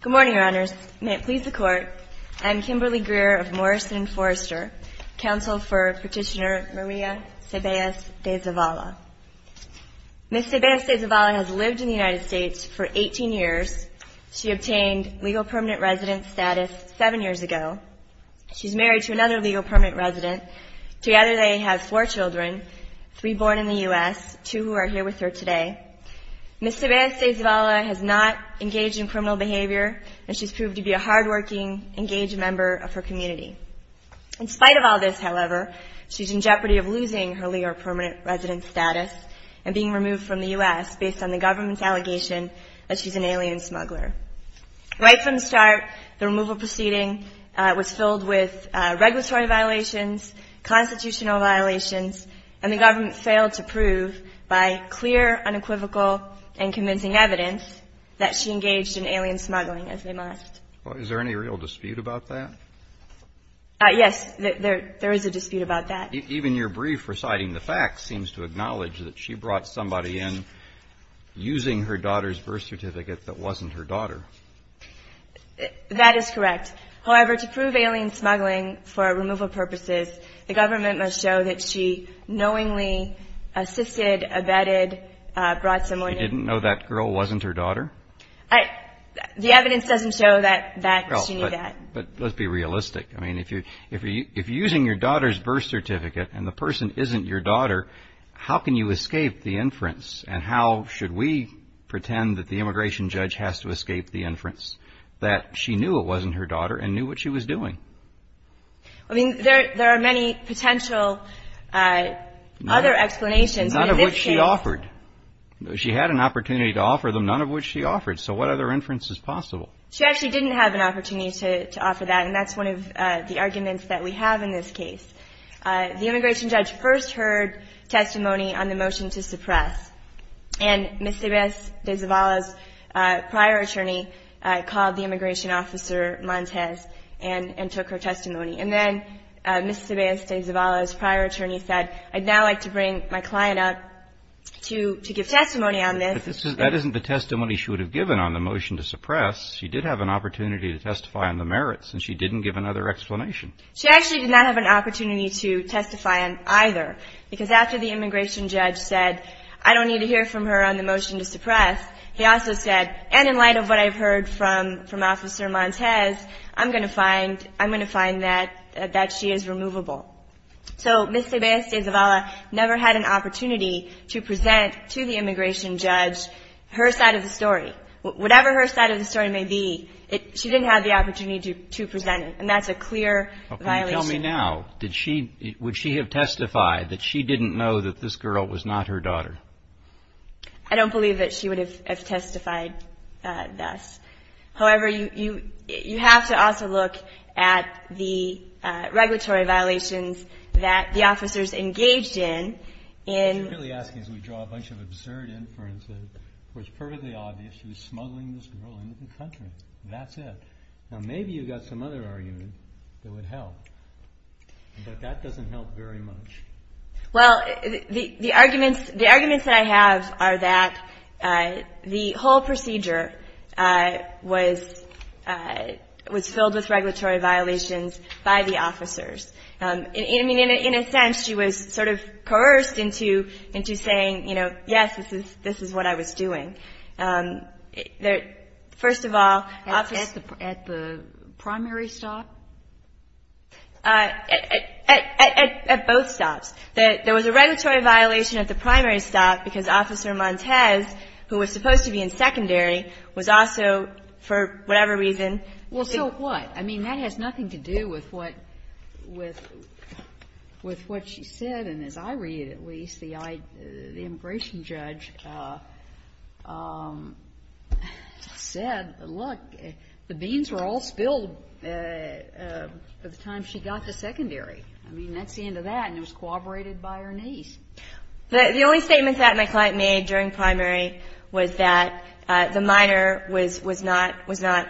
Good morning, Your Honors. May it please the Court, I am Kimberly Greer of Morrison Forrester, counsel for Petitioner Maria CeBALLOS DE ZAVALA. Ms. CeBALLOS DE ZAVALA has lived in the United States as a legal permanent resident seven years ago. She is married to another legal permanent resident. Together they have four children, three born in the U.S., two who are here with her today. Ms. CeBALLOS DE ZAVALA has not engaged in criminal behavior and she has proved to be a hard-working, engaged member of her community. In spite of all this, however, she is in jeopardy of losing her legal permanent resident status and being removed from the U.S. based on the government's allegation that she's an alien smuggler. Right from the start, the removal proceeding was filled with regulatory violations, constitutional violations, and the government failed to prove by clear, unequivocal, and convincing evidence that she engaged in alien smuggling as they must. JUSTICE KENNEDY Is there any real dispute about that? MS. CEBALLOS DE ZAVALA Yes, there is a dispute about that. JUSTICE KENNEDY Even your brief reciting the facts seems to acknowledge that she brought somebody in using her daughter's birth certificate that wasn't her daughter. MS. CEBALLOS DE ZAVALA That is correct. However, to prove alien smuggling for removal purposes, the government must show that she knowingly assisted, abetted, brought someone in. JUSTICE KENNEDY You didn't know that girl wasn't her daughter? MS. CEBALLOS DE ZAVALA The evidence doesn't show that she knew that. JUSTICE KENNEDY But let's be realistic. I mean, if you're using your daughter's birth certificate, and the person isn't your daughter, how can you escape the inference? And how should we pretend that the immigration judge has to escape the inference that she knew it wasn't her daughter and knew what she was doing? MS. CEBALLOS DE ZAVALA I mean, there are many potential other explanations. JUSTICE KENNEDY None of which she offered. She had an opportunity to offer them, none of which she offered. So what other inference is possible? MS. CEBALLOS DE ZAVALA She actually didn't have an opportunity to offer that, and that's one of the arguments that we have in this case. The immigration judge first heard testimony on the motion to suppress, and Ms. Ceballos de Zavala's prior attorney called the immigration officer Montez and took her testimony. And then Ms. Ceballos de Zavala's prior attorney said, I'd now like to bring my client up to give testimony on this. JUSTICE KENNEDY But that isn't the testimony she would have given on the motion to suppress. She did have an opportunity to testify on the merits, and she didn't give another explanation. MS. CEBALLOS DE ZAVALA She actually did not have an opportunity to testify on either, because after the immigration judge said, I don't need to hear from her on the motion to suppress, he also said, and in light of what I've heard from Officer Montez, I'm going to find that she is removable. So Ms. Ceballos de Zavala never had an opportunity to present to the immigration judge her side of the story. Whatever her side of the story may be, she didn't have the opportunity to present it, and that's a clear violation. JUSTICE KENNEDY But can you tell me now, would she have testified that she didn't know that this girl was not her daughter? MS. CEBALLOS DE ZAVALA I don't believe that she would have testified thus. However, you have to also look at the regulatory violations that the officers engaged in, in... JUSTICE KENNEDY I mean, in a sense, she was sort of coerced into saying, you know, you know, yes, this is what I was doing. First of all, Officer... MS. CEBALLOS DE ZAVALA At the primary stop? MS. CEBALLOS DE ZAVALA At both stops. There was a regulatory violation at the primary stop because Officer Montez, who was supposed to be in secondary, was also, for whatever JUSTICE KENNEDY Well, so what? I mean, that has nothing to do with what she said. MS. CEBALLOS DE ZAVALA And as I read, at least, the immigration judge said, look, the beans were all spilled by the time she got to secondary. I mean, that's the end of that, and it was corroborated by her niece. MS. KENNEDY The only statement that my client made during primary was that the minor was not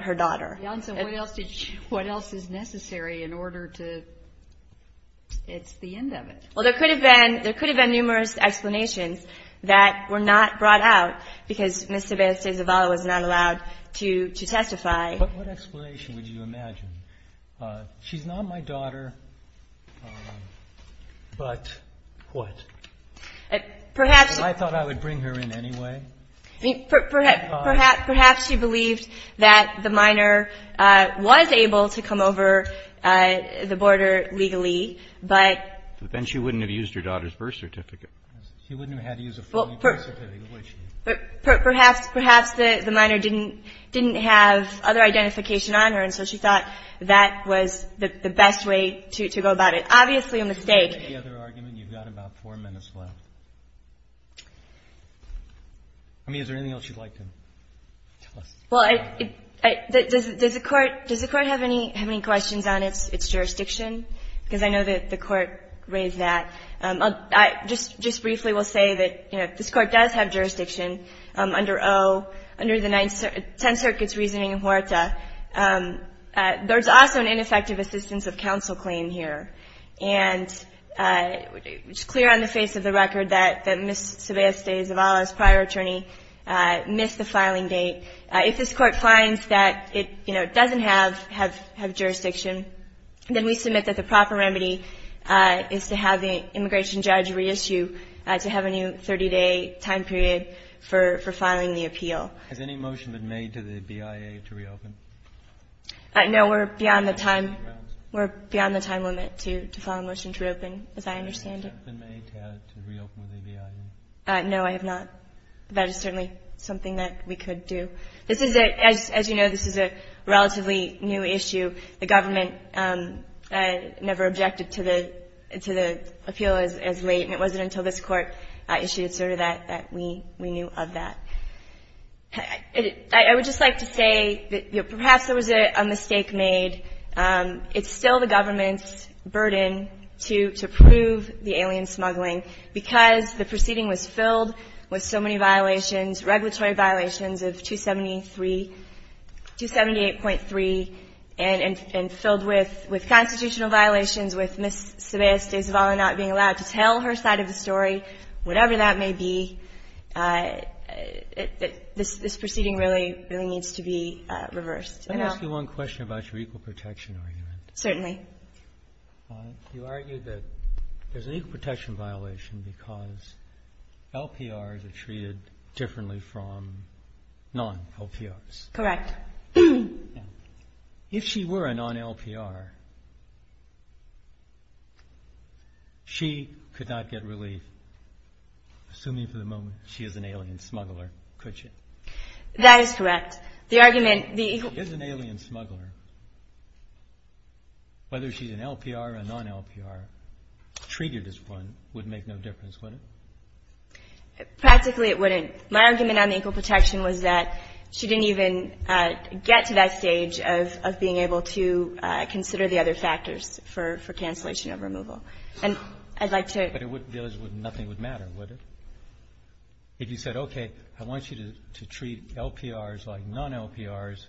her daughter. JUSTICE KENNEDY Jan, so what else is necessary in order to... it's the end of it. MS. CEBALLOS DE ZAVALA Well, there could have been numerous explanations that were not brought out because Ms. Ceballos de Zavala was not allowed to testify. JUSTICE KENNEDY But what explanation would you imagine? She's not my daughter, but what? MS. CEBALLOS DE ZAVALA Perhaps... JUSTICE KENNEDY I thought I would bring her in anyway. MS. CEBALLOS DE ZAVALA Perhaps she believed that the minor was able to come over the border legally, but... JUSTICE KENNEDY She wouldn't have used her daughter's birth certificate. JUSTICE KENNEDY She wouldn't have had to use a full birth certificate, would she? MS. CEBALLOS DE ZAVALA Perhaps the minor didn't have other identification on her, and so she thought that was the best way to go about it. Obviously a mistake. JUSTICE KENNEDY Any other argument? You've got about four minutes left. I mean, is there anything else you'd like to tell us? MS. CEBALLOS DE ZAVALA Well, does the Court have any questions on its jurisdiction? Because I know that the Court raised that. I just briefly will say that, you know, if this Court does have jurisdiction under O, under the Tenth Circuit's reasoning in Huerta, there's also an ineffective assistance of counsel claim here. And it's clear on the face of the record that Ms. Ceballos de Zavala's prior attorney missed the filing date. If this Court finds that it, you know, doesn't have jurisdiction, then we submit that the proper remedy is to have the immigration judge reissue to have a new 30-day time period for filing the appeal. JUSTICE KENNEDY Has any motion been made to the BIA to reopen? MS. CEBALLOS DE ZAVALA No, we're beyond the time limit to file a motion to reopen, as I understand it. JUSTICE KENNEDY Has any motion been made to reopen with the BIA? MS. CEBALLOS DE ZAVALA No, I have not. That is certainly something that we could do. This is a, as you know, this is a relatively new issue. The government never objected to the, to the appeal as late, and it wasn't until this Court issued its order that we, we knew of that. I would just like to say that, you know, perhaps there was a mistake made. It's still the government's burden to, to prove the alien smuggling, because the proceeding was filled with so many violations, regulatory violations of 273, 278.3, and, and filled with, with constitutional violations, with Ms. Ceballos De Zavala not being allowed to tell her side of the story, whatever that may be. This, this proceeding really, really needs to be reversed. And I'll ---- JUSTICE SCALIA Let me ask you one question about your equal protection argument. MS. CEBALLOS DE ZAVALA Certainly. JUSTICE SCALIA You argue that there's an equal protection violation because LPRs are treated differently from non-LPRs. MS. CEBALLOS DE ZAVALA Correct. JUSTICE SCALIA If she were a non-LPR, she could not get relief, assuming for the moment she is an alien smuggler, could she? MS. CEBALLOS DE ZAVALA That is correct. The argument, the equal ---- JUSTICE SCALIA Whether she's an LPR or a non-LPR, treated as one would make no difference, would it? MS. CEBALLOS DE ZAVALA Practically, it wouldn't. My argument on the equal protection was that she didn't even get to that stage of, of being able to consider the other factors for, for cancellation of removal. And I'd like to ---- JUSTICE SCALIA But it wouldn't be as if nothing would matter, would it? If you said, okay, I want you to, to treat LPRs like non-LPRs,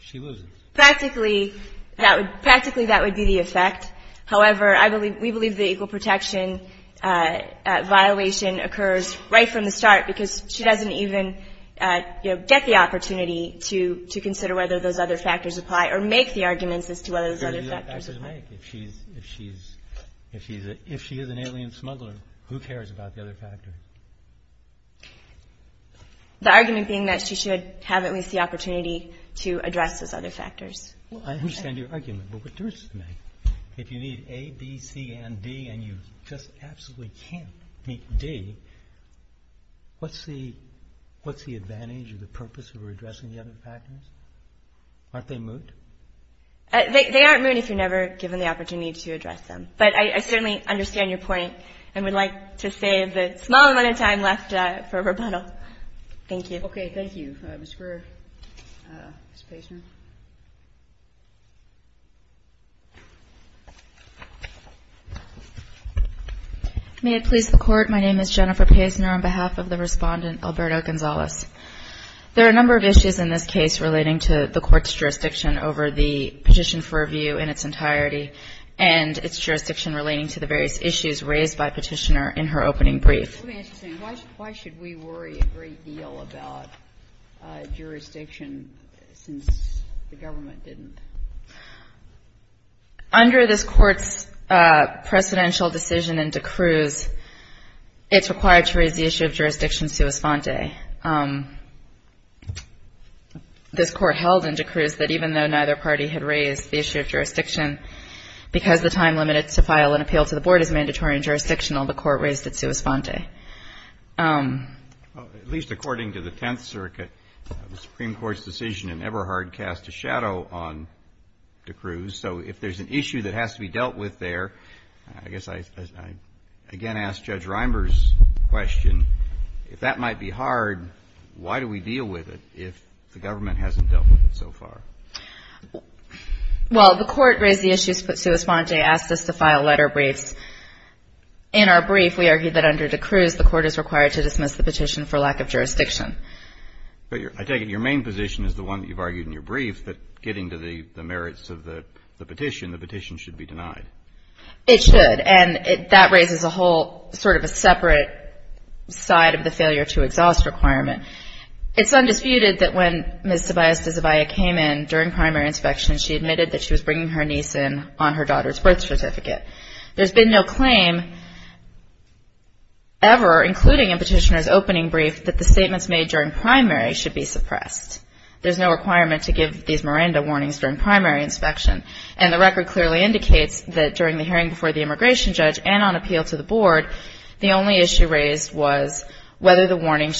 she loses. MS. CEBALLOS DE ZAVALA Practically, that would, practically that would be the effect. However, I believe, we believe the equal protection violation occurs right from the start because she doesn't even, you know, get the opportunity to, to consider whether those other factors apply or make the arguments as to whether those other factors apply. JUSTICE SCALIA There are no factors to make. If she's, if she's, if she's a, if she is an alien smuggler, who cares about the other factors? MS. CEBALLOS DE ZAVALA The argument being that she should have at least the opportunity to address those other factors. JUSTICE SCALIA Well, I understand your argument, but what does it make? If you need A, B, C, and D, and you just absolutely can't meet D, what's the, what's the advantage of the purpose of addressing the other factors? Aren't they moot? MS. CEBALLOS DE ZAVALA They aren't moot if you're never given the opportunity to address them. But I certainly understand your point and would like to save the small amount of time left for rebuttal. Thank you. JUSTICE SCALIA Okay. Thank you. Ms. Greer. Ms. Pazner. JENNIFER PAZNER May it please the Court, my name is Jennifer Pazner on behalf of the Respondent, Alberto Gonzalez. There are a number of issues in this case relating to the Court's jurisdiction over the petition for review in its entirety and its jurisdiction relating to the various issues raised by Petitioner in her opening brief. KAGAN Let me ask you something. Why should we worry a great deal about jurisdiction since the government didn't? MS. PAZNER Under this Court's precedential decision in D'Cruz, it's required to raise the issue of jurisdiction sua sponte. This Court held in D'Cruz that even though neither party had raised the issue of jurisdiction, because the time limited to file an appeal to the Board is mandatory and jurisdictional, the Court raised it sua sponte. JUSTICE KENNEDY At least according to the Tenth Circuit, the Supreme Court's decision in Eberhard cast a shadow on D'Cruz. So if there's an issue that has to be dealt with there, I guess I again ask Judge Reimers' question, if that might be hard, why do we deal with it if the government hasn't dealt with it so far? MS. PAZNER Well, the Court raised the issue sua sponte, asked us to file letter briefs. In our brief, we argued that under D'Cruz, the Court is required to dismiss the petition for lack of jurisdiction. JUSTICE KENNEDY I take it your main position is the one that you've argued in your brief, that getting to the merits of the petition, the petition should be denied. MS. PAZNER It should. And that raises a whole sort of a separate side of the failure to exhaust requirement. It's undisputed that when Ms. Tobias de Zavia came in during primary inspection, she admitted that she was bringing her niece in on her daughter's birth certificate. There's been no claim ever, including in Petitioner's opening brief, that the statements made during primary should be suppressed. There's no requirement to give these Miranda warnings during primary inspection. And the record clearly indicates that during the hearing before the immigration judge and on appeal to the during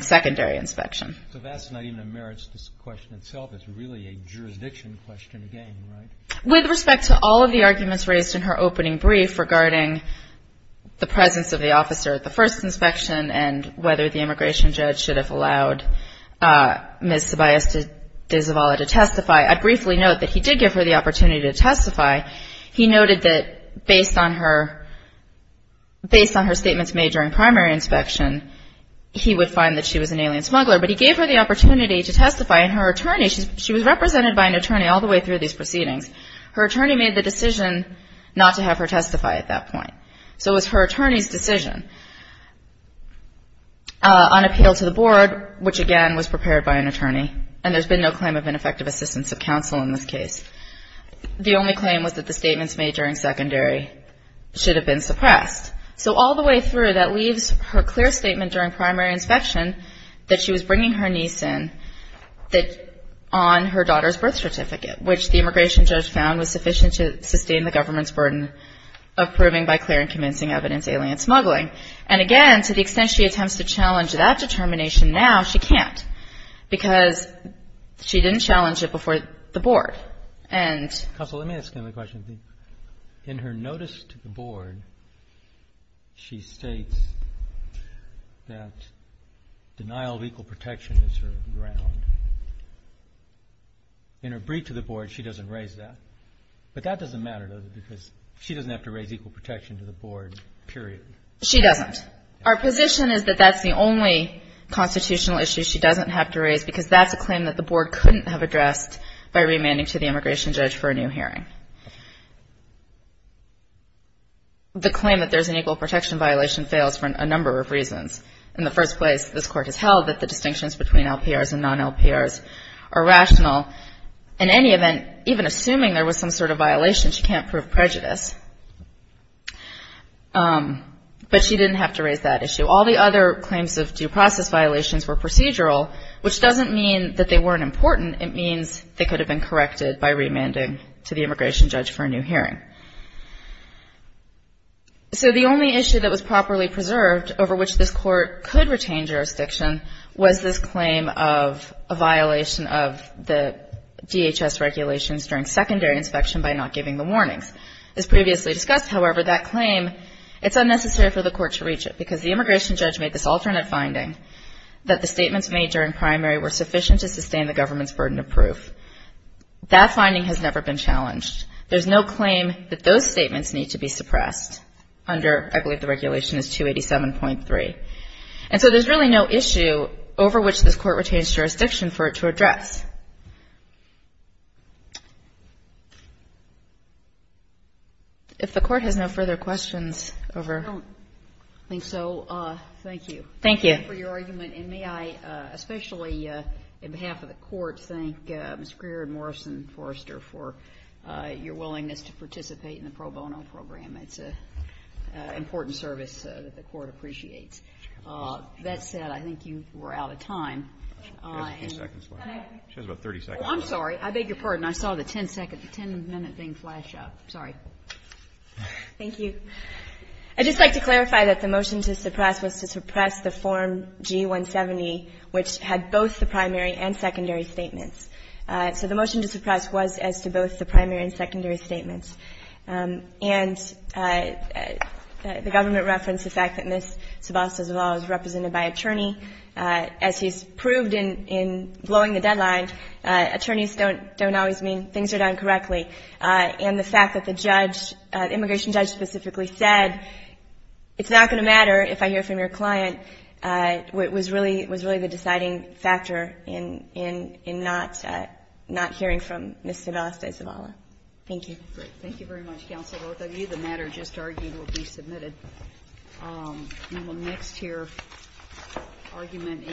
secondary inspection. JUSTICE KENNEDY So that's not even a merits question itself. It's really a jurisdiction question again, right? MS. PAZNER With respect to all of the arguments raised in her opening brief regarding the presence of the officer at the first inspection and whether the immigration judge should have allowed Ms. Tobias de Zavia to testify, I briefly note that he did give her the opportunity to testify. He noted that based on her statements made during primary inspection, he would find that she was an alien smuggler. But he gave her the opportunity to testify. And her attorney, she was represented by an attorney all the way through these proceedings. Her attorney made the decision not to have her testify at that point. So it was her attorney's decision on appeal to the board, which again was prepared by an attorney. And there's been no claim of ineffective assistance of counsel in this case. The only claim was that the statements made during secondary should have been suppressed. So all the way through, that leaves her clear statement during primary inspection that she was bringing her niece in on her daughter's birth certificate, which the immigration judge found was sufficient to sustain the government's burden of proving by clear and convincing evidence alien smuggling. And again, to the extent she attempts to challenge that determination now, she can't, because she didn't challenge it before the board. And Counsel, let me ask another question. In her notice to the board, she states that denial of equal protection is her ground. In her brief to the board, she doesn't raise that. But that doesn't matter, does it? Because she doesn't have to raise equal protection to the board, period. She doesn't. Our position is that that's the only constitutional issue she doesn't have to raise, because that's a claim that the board couldn't have addressed by remanding to the immigration judge for a new hearing. The claim that there's an equal protection violation fails for a number of reasons. In the first place, this court has held that the distinctions between LPRs and non-LPRs are rational. In any event, even assuming there was some sort of violation, she can't prove prejudice. But she didn't have to raise that issue. All the other claims of due process violations were procedural, which doesn't mean that they weren't important. It means they could have been corrected by remanding to the immigration judge for a new hearing. So the only issue that was properly preserved over which this court could retain jurisdiction was this claim of a violation of the DHS regulations during secondary inspection by not giving the warnings. As previously discussed, however, that alternate finding that the statements made during primary were sufficient to sustain the government's burden of proof. That finding has never been challenged. There's no claim that those statements need to be suppressed under, I believe, the regulation is 287.3. And so there's really no issue over which this court retains jurisdiction for it to address. If the Court has no further questions over ---- I don't think so. Thank you. Thank you. Thank you for your argument. And may I especially, on behalf of the Court, thank Ms. Greer and Morrison-Forrester for your willingness to participate in the pro bono program. It's an important service that the Court appreciates. That said, I think you were out of time. She has a few seconds left. She has about 30 seconds left. I'm sorry. I beg your pardon. I saw the 10-minute thing flash up. Sorry. Thank you. I'd just like to clarify that the motion to suppress was to suppress the Form G-170, which had both the primary and secondary statements. So the motion to suppress was as to both the primary and secondary statements. And the government referenced the fact that Ms. Sebastiaz-Lavalle is represented by attorney. As she's proved in blowing the deadline, attorneys don't always mean things are done directly. And the fact that the judge, the immigration judge specifically said, it's not going to matter if I hear from your client, was really the deciding factor in not hearing from Ms. Sebastiaz-Lavalle. Thank you. Thank you very much, counsel. Both of you, the matter just argued will be submitted. We will next hear argument in.